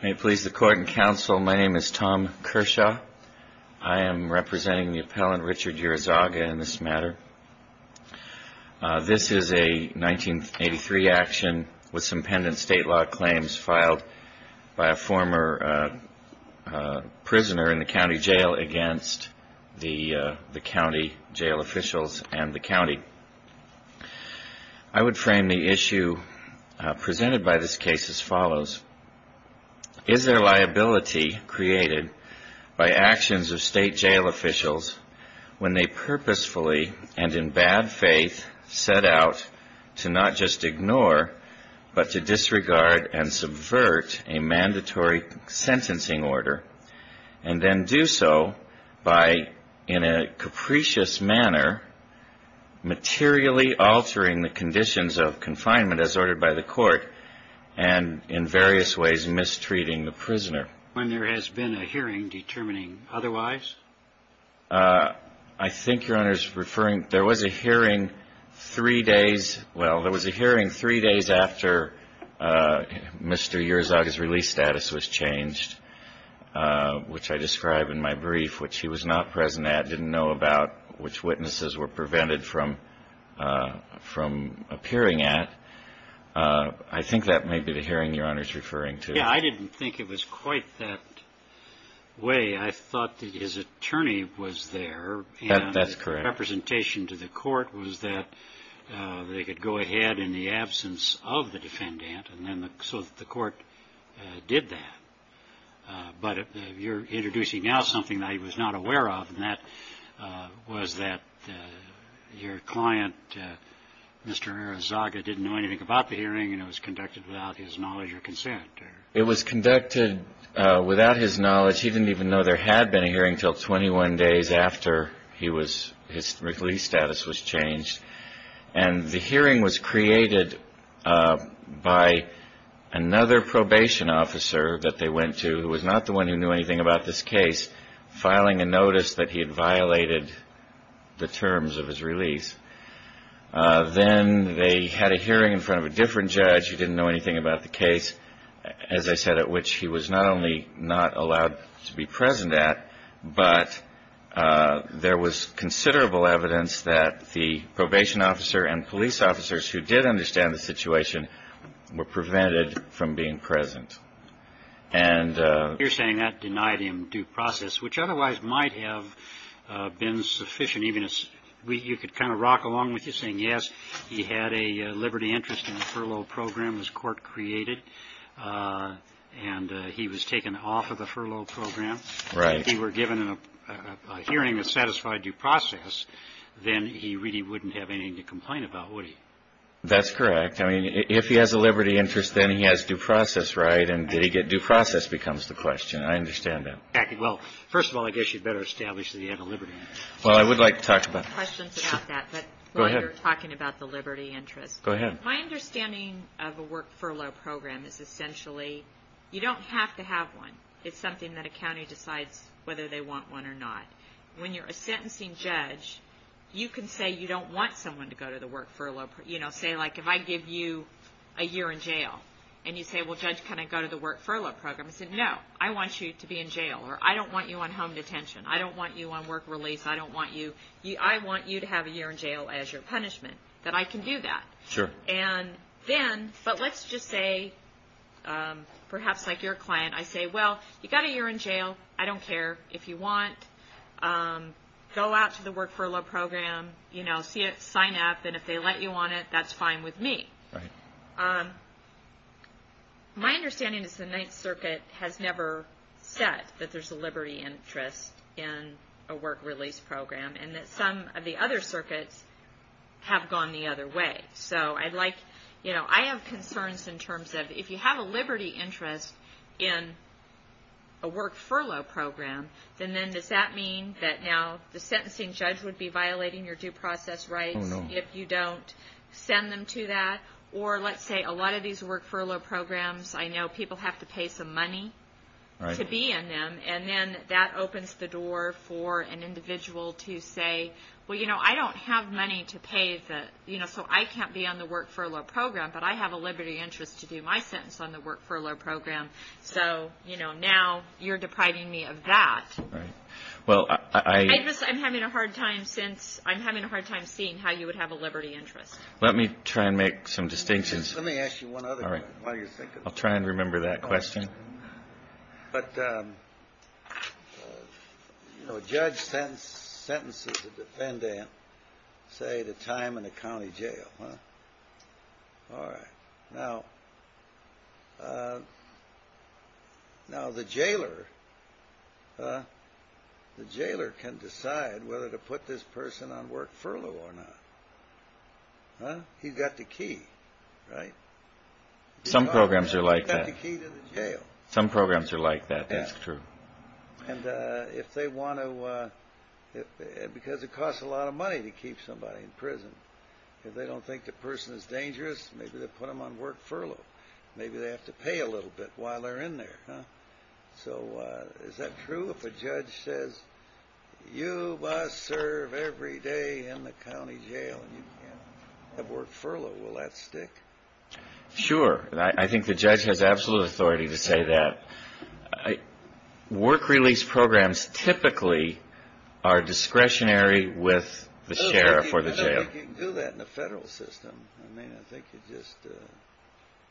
May it please the Court and Counsel, my name is Tom Kershaw. I am representing the Appellant Richard Yurizaga in this matter. This is a 1983 action with some pendent state law claims filed by a former prisoner in the county jail against the county jail officials and the county. I would frame the issue presented by this case as follows. Is there liability created by actions of state jail officials when they purposefully and in bad faith set out to not just ignore but to disregard and subvert a mandatory sentencing order and then do so by, in a capricious manner, materially altering the conditions of confinement as determining otherwise? I think Your Honor is referring, there was a hearing three days, well, there was a hearing three days after Mr. Yurizaga's release status was changed, which I describe in my brief, which he was not present at, didn't know about, which witnesses were prevented from appearing at. I think that may be the hearing Your Honor is referring to. Yeah, I didn't think it was quite that way. I thought that his attorney was there. That's correct. And the representation to the court was that they could go ahead in the absence of the defendant and then so the court did that. But you're Mr. Yurizaga didn't know anything about the hearing and it was conducted without his knowledge or consent. It was conducted without his knowledge. He didn't even know there had been a hearing until 21 days after he was, his release status was changed. And the hearing was created by another probation officer that they had a hearing in front of a different judge who didn't know anything about the case, as I said, at which he was not only not allowed to be present at, but there was considerable evidence that the probation officer and police officers who did understand the situation were prevented from being present. And you're saying that process, which otherwise might have been sufficient, even as you could kind of rock along with you saying, yes, he had a liberty interest in the furlough program as court created and he was taken off of the furlough program. Right. If he were given a hearing that satisfied due process, then he really wouldn't have anything to complain about, would he? That's correct. I mean, if he has a liberty interest, then he has due process. Right. And did he get due process becomes the question. I understand that. Well, first of all, I guess you'd better establish that you have a liberty interest. Well, I would like to talk about that. Questions about that, but while you're talking about the liberty interest. Go ahead. My understanding of a work furlough program is essentially you don't have to have one. It's something that a county decides whether they want one or not. When you're a sentencing judge, you can say you don't want someone to go to the work furlough, you know, say, like, if I give you a year in jail and you say, well, judge, go to the work furlough program. I said, no, I want you to be in jail or I don't want you on home detention. I don't want you on work release. I don't want you, I want you to have a year in jail as your punishment, that I can do that. Sure. And then, but let's just say, perhaps like your client, I say, well, you got a year in jail, I don't care if you want, go out to the work furlough program, you know, sign up and if they let you on it, that's fine with me. Right. My understanding is the Ninth Circuit has never said that there's a liberty interest in a work release program and that some of the other circuits have gone the other way. So I'd like, you know, I have concerns in terms of if you have a liberty interest in a work furlough program, then does that mean that now the sentencing judge would be violating your due process rights if you don't send them to that? Well, let's say a lot of these work furlough programs, I know people have to pay some money to be in them and then that opens the door for an individual to say, well, you know, I don't have money to pay the, you know, so I can't be on the work furlough program, but I have a liberty interest to do my sentence on the work furlough program. So, you know, now you're depriving me of that. I'm having a hard time seeing how you would have a liberty interest. Let me try and make some distinctions. Let me ask you one other one while you're thinking. I'll try and remember that question. But, you know, a judge sentences a defendant, say, to time in a county jail. All right. Now, the jailer can decide whether to put this person on work furlough or not. He's got the key, right? Some programs are like that. Some programs are like that. That's true. And if they want to, because it costs a lot of money to keep somebody in prison, if they don't think the person is dangerous, maybe they put them on work furlough. Maybe they have to pay a little bit while they're in there. So is that true? If a judge says, you must serve every day in the county jail and you can't have work furlough, will that stick? Sure. I think the judge has absolute authority to say that. Work release programs typically are discretionary with the sheriff or the jail. I don't think you can do that in the federal system. I mean, I think you just...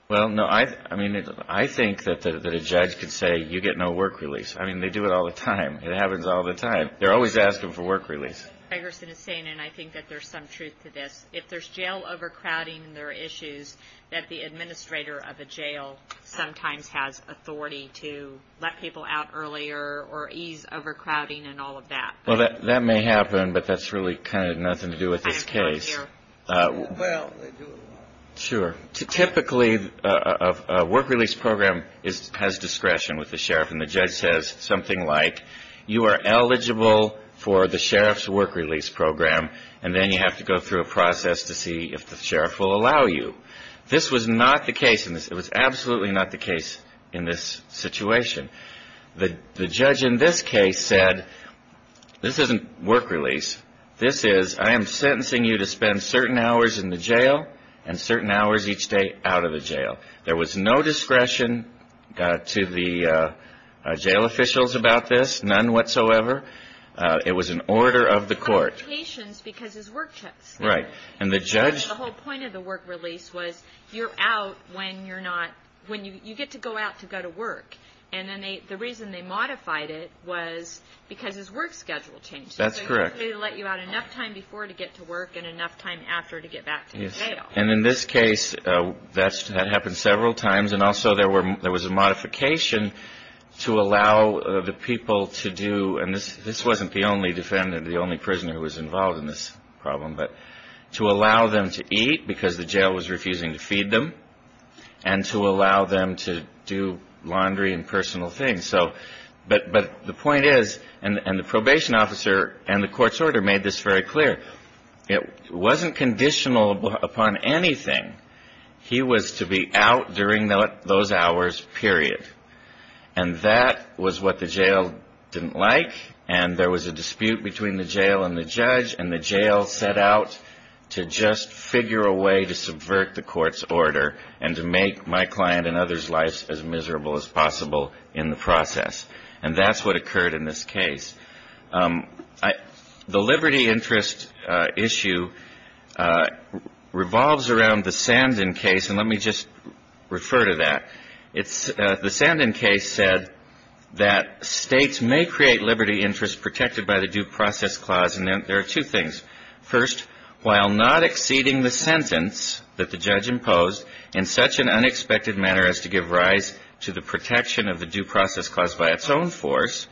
Well, no. I mean, I think that a judge could say, you get no work release. I mean, they do it all the time. It happens all the time. They're always asking for work release. Gregerson is saying, and I think that there's some truth to this, if there's jail overcrowding, there are issues that the administrator of a jail sometimes has authority to let people out earlier or ease overcrowding and all of that. Well, that may happen, but that's really kind of nothing to do with this case. Well, they do it a lot. Sure. Typically, a work release program has discretion with the sheriff, and the judge says something like, you are eligible for the sheriff's work release program, and then you have to go through a process to see if the sheriff will allow you. This was not the case in this. It was absolutely not the case in this situation. The judge in this case said, this isn't work release. This is, I am sentencing you to spend certain hours in the jail and certain hours each day out of the jail. There was no discretion to the jail officials about this, none whatsoever. It was an order of the court. Right. And the judge. The whole point of the work release was, you're out when you're not, when you get to go out to go to work. And then the reason they modified it was because his work schedule changed. That's correct. They let you out enough time before to get to work and enough time after to get back to the jail. And in this case, that happened several times, and also there was a modification to allow the people to do, and this wasn't the only defendant, the only prisoner who was involved in this problem, but to allow them to eat because the jail was refusing to feed them, and to allow them to do laundry and personal things. But the point is, and the probation officer and the court's order made this very clear, it wasn't conditional upon anything. He was to be out during those hours, period. And that was what the jail didn't like, and there was a dispute between the jail and the judge, and the jail set out to just figure a way to subvert the court's order and to make my client and others' lives as miserable as possible in the process. And that's what occurred in this case. The liberty interest issue revolves around the Sandin case, and let me just refer to that. The Sandin case said that states may create liberty interest protected by the due process clause, and there are two things. First, while not exceeding the sentence that the judge imposed in such an unexpected manner as to give rise to the protection of the due process clause by its own force,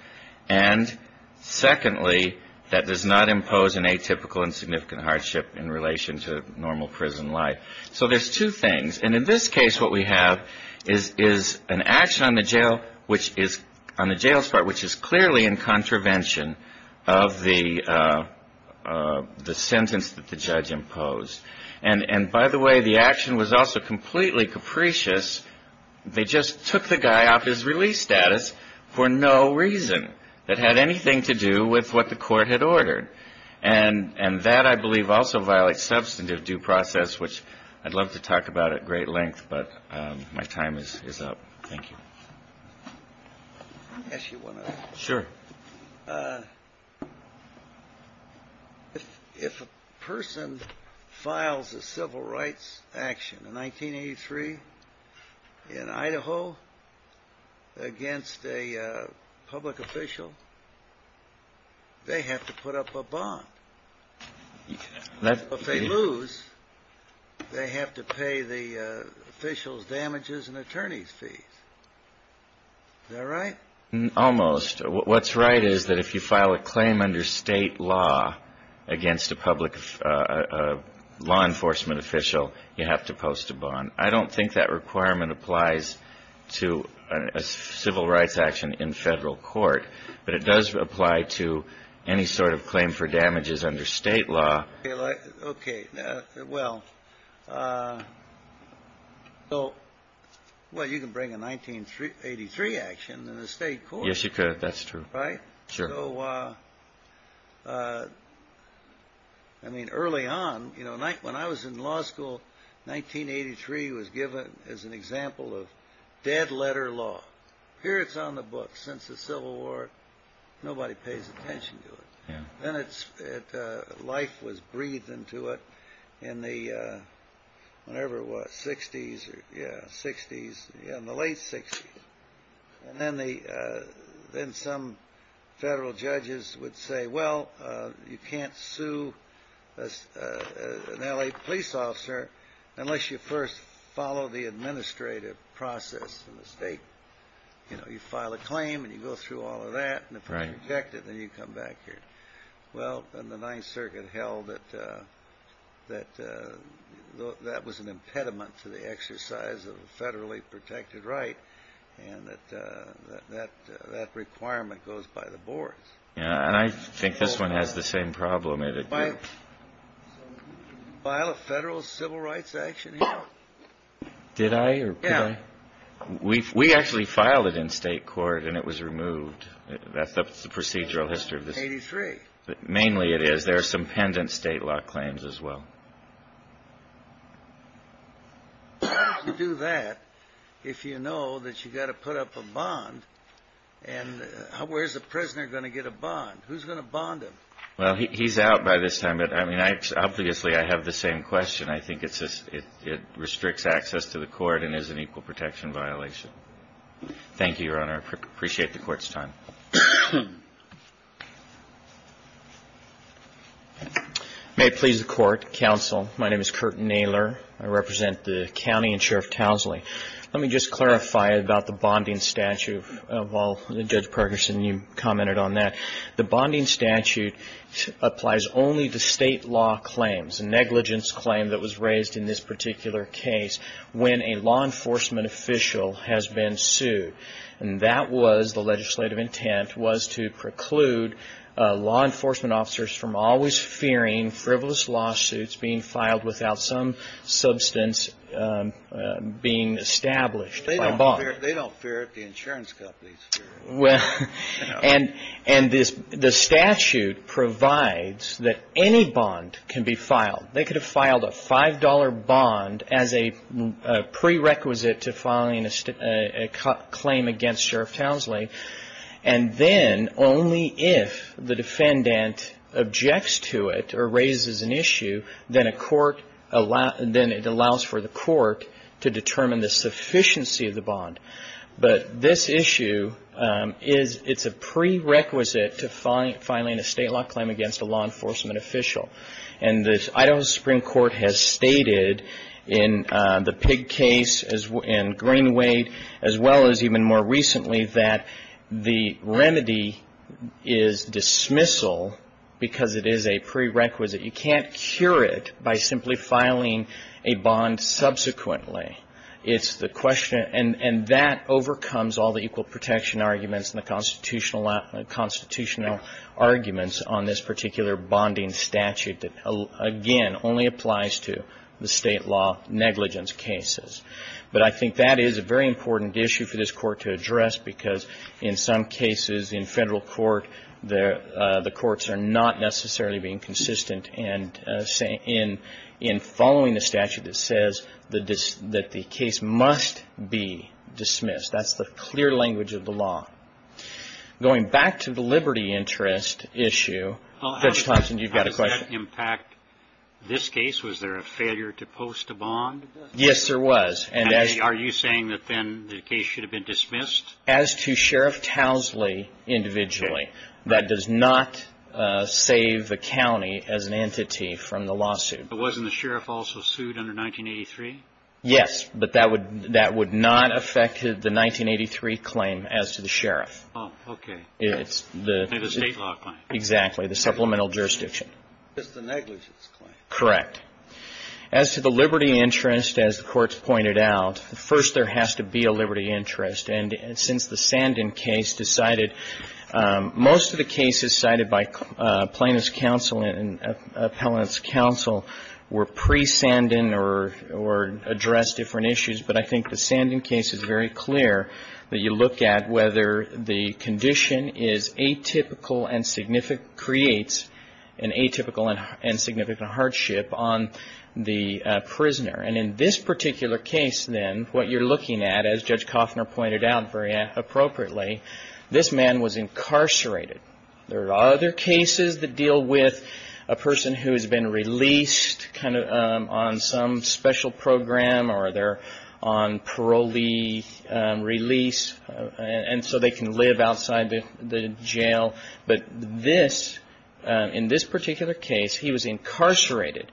and secondly, that does not impose an atypical and significant hardship in relation to normal prison life. So there's two things, and in this case what we have is an action on the jail's part which is clearly in contravention of the sentence that the judge imposed. And by the way, the action was also completely capricious. They just took the guy off his release status for no reason that had anything to do with what the court had ordered. And that, I believe, also violates substantive due process, which I'd love to talk about at great length, but my time is up. Thank you. If a person files a civil rights action in 1983 in Idaho against a public official, they have to put up a bond. If they lose, they have to pay the official's damages and attorney's fees. Is that right? Almost. What's right is that if you file a claim under state law against a public law enforcement official, you have to post a bond. I don't think that requirement applies to a civil rights action in federal court, but it does apply to any sort of claim for damages under state law. Okay. Well, you can bring a 1983 action in the state court. Yes, you could. That's true. Right? Sure. I mean, early on, when I was in law school, 1983 was given as an example of dead letter law. Here it's on the books. Since the Civil War, nobody pays attention to it. Then life was breathed into it in the whatever it was, 60s. Yeah, 60s. In the late 60s. And then some federal judges would say, well, you can't sue an L.A. police officer unless you first follow the administrative process in the state. You file a claim, and you go through all of that, and if it's rejected, then you come back here. Well, then the Ninth Circuit held that that was an impediment to the exercise of a federally protected right, and that requirement goes by the boards. Yeah, and I think this one has the same problem. Did you file a federal civil rights action here? Did I? Yeah. Did I? We actually filed it in state court, and it was removed. That's the procedural history of this. 1983. Mainly it is. There are some pendant state law claims as well. How do you do that if you know that you've got to put up a bond, and where's the prisoner going to get a bond? Who's going to bond him? Well, he's out by this time. But, I mean, obviously, I have the same question. I think it restricts access to the court and is an equal protection violation. Thank you, Your Honor. I appreciate the Court's time. May it please the Court. Counsel, my name is Curt Naylor. I represent the County and Sheriff Towsley. Let me just clarify about the bonding statute of all. Judge Pergerson, you commented on that. The bonding statute applies only to state law claims, negligence claim that was raised in this particular case when a law enforcement official has been sued. And that was, the legislative intent, was to preclude law enforcement officers from always fearing frivolous lawsuits being filed without some substance being established by bond. They don't fear it. The insurance companies fear it. And the statute provides that any bond can be filed. They could have filed a $5 bond as a prerequisite to filing a claim against Sheriff Towsley. And then only if the defendant objects to it or raises an issue, then it allows for the court to determine the sufficiency of the bond. But this issue, it's a prerequisite to filing a state law claim against a law enforcement official. And the Idaho Supreme Court has stated in the Pig case and Green-Wade as well as even more recently that the remedy is dismissal because it is a prerequisite. You can't cure it by simply filing a bond subsequently. It's the question. And that overcomes all the equal protection arguments and the constitutional arguments on this particular bonding statute that, again, only applies to the state law negligence cases. But I think that is a very important issue for this Court to address because in some cases in Federal court, the courts are not necessarily being consistent in following the statute that says that the case must be dismissed. That's the clear language of the law. Going back to the liberty interest issue, Judge Thompson, you've got a question. How does that impact this case? Was there a failure to post a bond? Yes, there was. Are you saying that then the case should have been dismissed? As to Sheriff Towsley individually, that does not save the county as an entity from the lawsuit. But wasn't the sheriff also sued under 1983? Yes, but that would not affect the 1983 claim as to the sheriff. Oh, okay. And the state law claim. Exactly, the supplemental jurisdiction. Just the negligence claim. Correct. As to the liberty interest, as the Court's pointed out, first there has to be a liberty interest. And since the Sandin case decided, most of the cases cited by plaintiff's counsel and appellant's counsel were pre-Sandin or addressed different issues. But I think the Sandin case is very clear that you look at whether the condition is atypical and creates an atypical and significant hardship on the prisoner. And in this particular case, then, what you're looking at, as Judge Coffner pointed out very appropriately, this man was incarcerated. There are other cases that deal with a person who has been released kind of on some special program or they're on parolee release, and so they can live outside the jail. But this, in this particular case, he was incarcerated.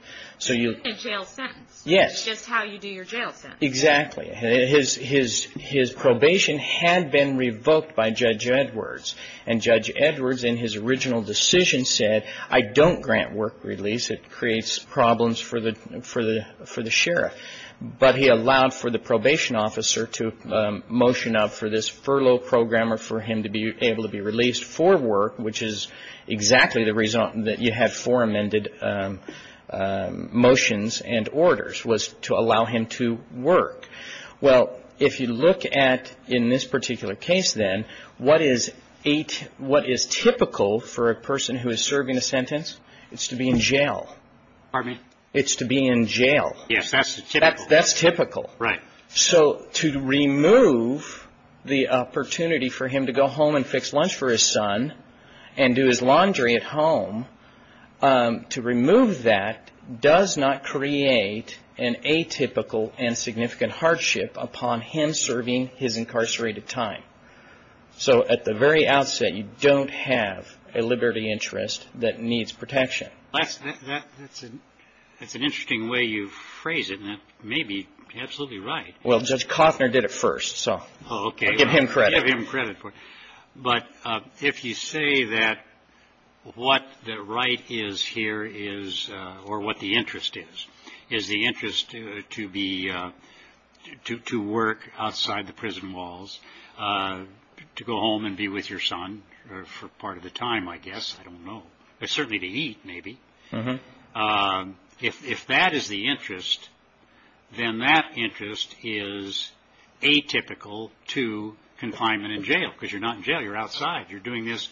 A jail sentence. Yes. Just how you do your jail sentence. Exactly. His probation had been revoked by Judge Edwards. And Judge Edwards, in his original decision, said, I don't grant work release. It creates problems for the sheriff. But he allowed for the probation officer to motion up for this furlough program or for him to be able to be released for work, which is exactly the reason that you had four amended motions and orders, was to allow him to work. Well, if you look at, in this particular case, then, what is typical for a person who is serving a sentence? It's to be in jail. Pardon me? It's to be in jail. Yes, that's typical. That's typical. Right. So to remove the opportunity for him to go home and fix lunch for his son and do his laundry at home, to remove that does not create an atypical and significant hardship upon him serving his incarcerated time. So at the very outset, you don't have a liberty interest that needs protection. That's an interesting way you phrase it, and that may be absolutely right. Well, Judge Koffner did it first, so I give him credit. You give him credit for it. But if you say that what the right is here is, or what the interest is, is the interest to work outside the prison walls, to go home and be with your son for part of the time, I guess. I don't know. Certainly to eat, maybe. If that is the interest, then that interest is atypical to confinement in jail, because you're not in jail. You're outside. You're doing this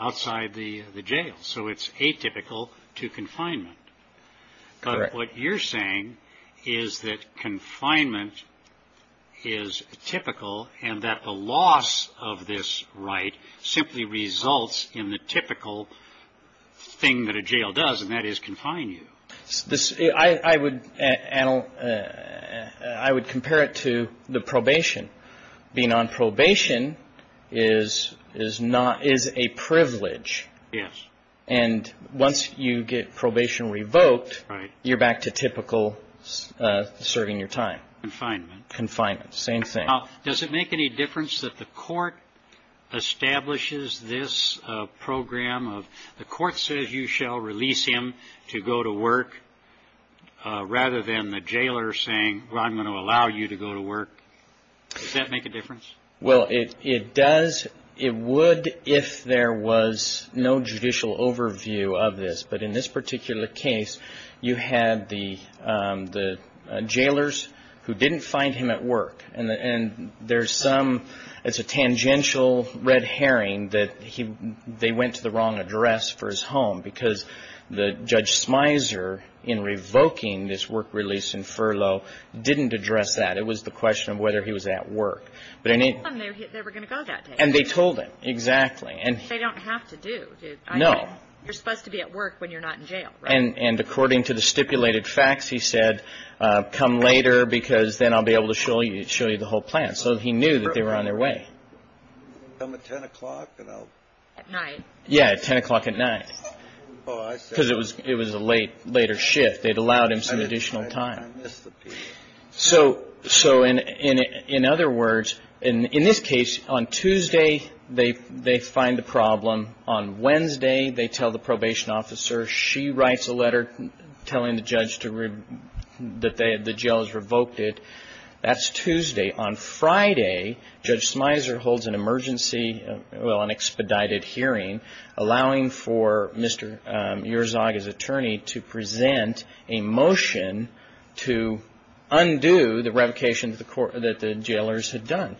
outside the jail. So it's atypical to confinement. Correct. But what you're saying is that confinement is typical and that the loss of this right simply results in the typical thing that a jail does, and that is confine you. I would compare it to the probation. Being on probation is a privilege. Yes. And once you get probation revoked, you're back to typical serving your time. Confinement. Same thing. Now, does it make any difference that the court establishes this program of the court says you shall release him to go to work, rather than the jailer saying, well, I'm going to allow you to go to work? Does that make a difference? Well, it does. It would if there was no judicial overview of this. But in this particular case, you had the jailers who didn't find him at work. And there's some – it's a tangential red herring that they went to the wrong address for his home, because Judge Smyser, in revoking this work release and furlough, didn't address that. It was the question of whether he was at work. They told him they were going to go that day. And they told him. Exactly. Which they don't have to do. No. You're supposed to be at work when you're not in jail, right? And according to the stipulated facts, he said, come later, because then I'll be able to show you the whole plan. So he knew that they were on their way. Come at 10 o'clock? At night. Yeah, at 10 o'clock at night. Oh, I see. Because it was a later shift. They'd allowed him some additional time. I miss the people. So in other words, in this case, on Tuesday, they find the problem. On Wednesday, they tell the probation officer. She writes a letter telling the judge that the jail has revoked it. That's Tuesday. On Friday, Judge Smyser holds an emergency – well, an expedited hearing, allowing for Mr. Yerzog, his attorney, to present a motion to undo the revocation that the jailors had done.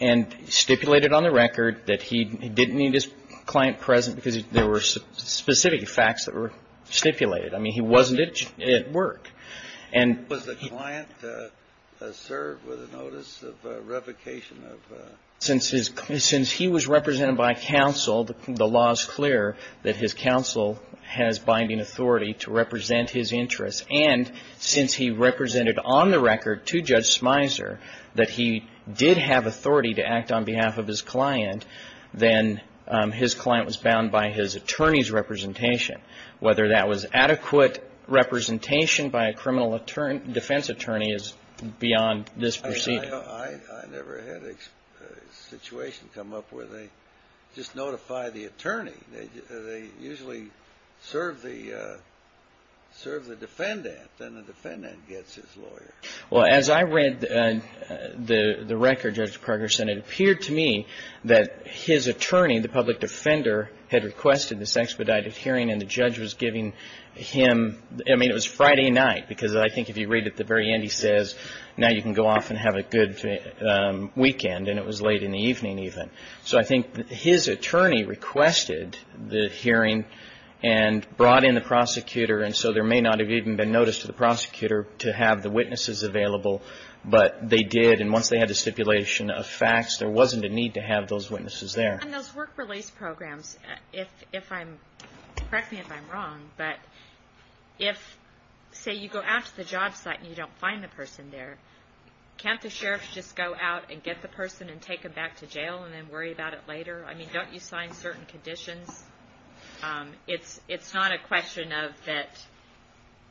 And stipulated on the record that he didn't need his client present because there were specific facts that were stipulated. I mean, he wasn't at work. Was the client served with a notice of revocation? Since he was represented by counsel, the law is clear that his counsel has binding authority to represent his interests. And since he represented on the record to Judge Smyser that he did have authority to act on behalf of his client, then his client was bound by his attorney's representation. Whether that was adequate representation by a criminal defense attorney is beyond this proceeding. I never had a situation come up where they just notify the attorney. They usually serve the defendant. Then the defendant gets his lawyer. Well, as I read the record, Judge Progerson, it appeared to me that his attorney, the public defender, had requested this expedited hearing, and the judge was giving him – I mean, it was Friday night. Because I think if you read at the very end, he says, now you can go off and have a good weekend. And it was late in the evening even. So I think his attorney requested the hearing and brought in the prosecutor. And so there may not have even been notice to the prosecutor to have the witnesses available, but they did. And once they had the stipulation of facts, there wasn't a need to have those witnesses there. On those work release programs, correct me if I'm wrong, but if, say, you go out to the job site and you don't find the person there, can't the sheriff just go out and get the person and take them back to jail and then worry about it later? I mean, don't you sign certain conditions? It's not a question of that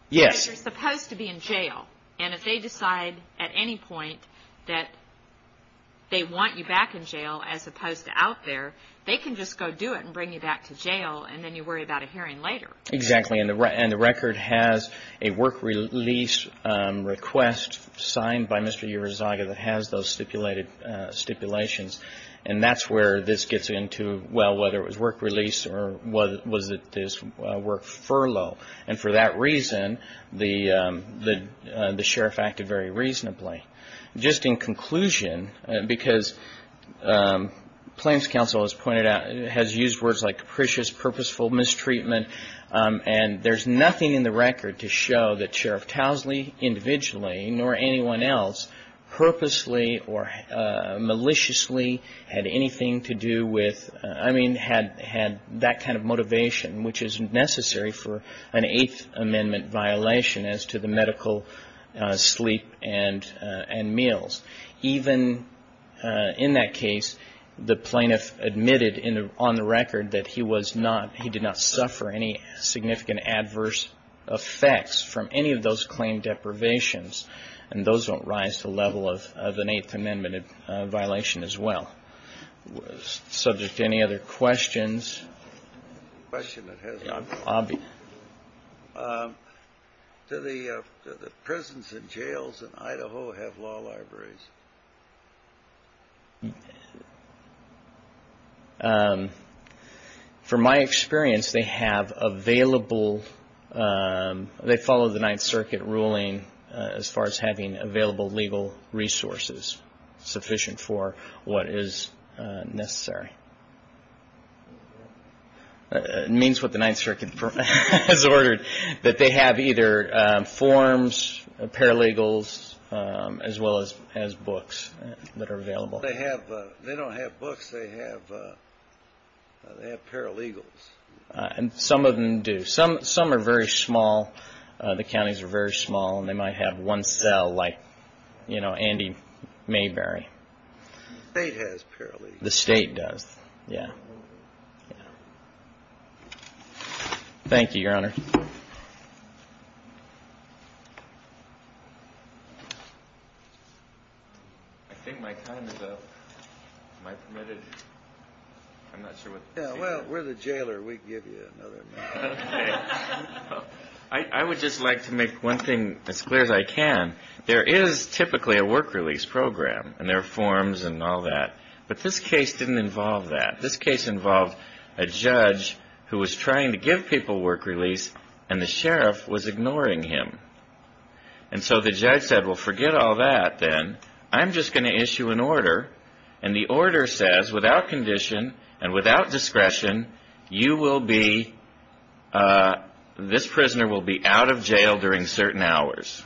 you're supposed to be in jail. And if they decide at any point that they want you back in jail as opposed to out there, they can just go do it and bring you back to jail and then you worry about a hearing later. Exactly. And the record has a work release request signed by Mr. Urizaga that has those stipulations. And that's where this gets into, well, whether it was work release or was it this work furlough. And for that reason, the sheriff acted very reasonably. Just in conclusion, because claims counsel has pointed out, has used words like capricious, purposeful mistreatment, and there's nothing in the record to show that Sheriff Towsley individually, nor anyone else, purposely or maliciously had anything to do with, I mean, had that kind of motivation, which is necessary for an Eighth Amendment violation as to the medical sleep and meals. Even in that case, the plaintiff admitted on the record that he was not, he did not suffer any significant adverse effects from any of those claim deprivations. And those don't rise to the level of an Eighth Amendment violation as well. Subject to any other questions? Question that has not been answered. Do the prisons and jails in Idaho have law libraries? From my experience, they have available, they follow the Ninth Circuit ruling as far as having available legal resources is sufficient for what is necessary. It means what the Ninth Circuit has ordered, that they have either forms, paralegals, as well as books that are available. They don't have books, they have paralegals. Some of them do. Some are very small. The counties are very small, and they might have one cell, like, you know, Andy Mayberry. The state has paralegals. The state does. Yeah. Thank you, Your Honor. I think my time is up. Am I permitted? I'm not sure what the jailer is. I would just like to make one thing as clear as I can. There is typically a work release program, and there are forms and all that. But this case didn't involve that. This case involved a judge who was trying to give people work release, and the sheriff was ignoring him. And so the judge said, well, forget all that, then. I'm just going to issue an order. And the order says, without condition and without discretion, you will be, this prisoner will be out of jail during certain hours.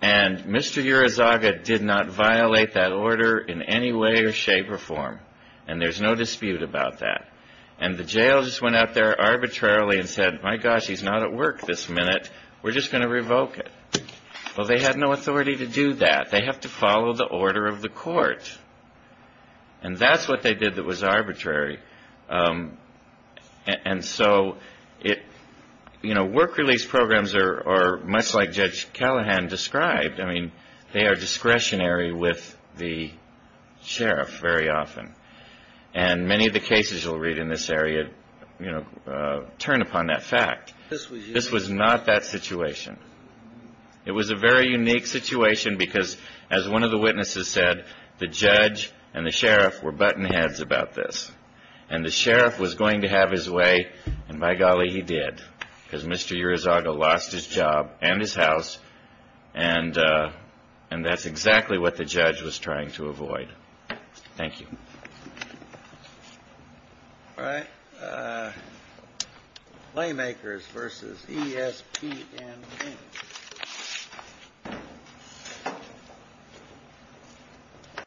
And Mr. Urizaga did not violate that order in any way or shape or form. And there's no dispute about that. And the jail just went out there arbitrarily and said, my gosh, he's not at work this minute. We're just going to revoke it. Well, they had no authority to do that. They have to follow the order of the court. And that's what they did that was arbitrary. And so, you know, work release programs are much like Judge Callahan described. I mean, they are discretionary with the sheriff very often. And many of the cases you'll read in this area, you know, turn upon that fact. This was not that situation. It was a very unique situation because, as one of the witnesses said, the judge and the sheriff were button heads about this. And the sheriff was going to have his way. And by golly, he did, because Mr. Urizaga lost his job and his house. And that's exactly what the judge was trying to avoid. Thank you. All right. Playmakers versus ESP.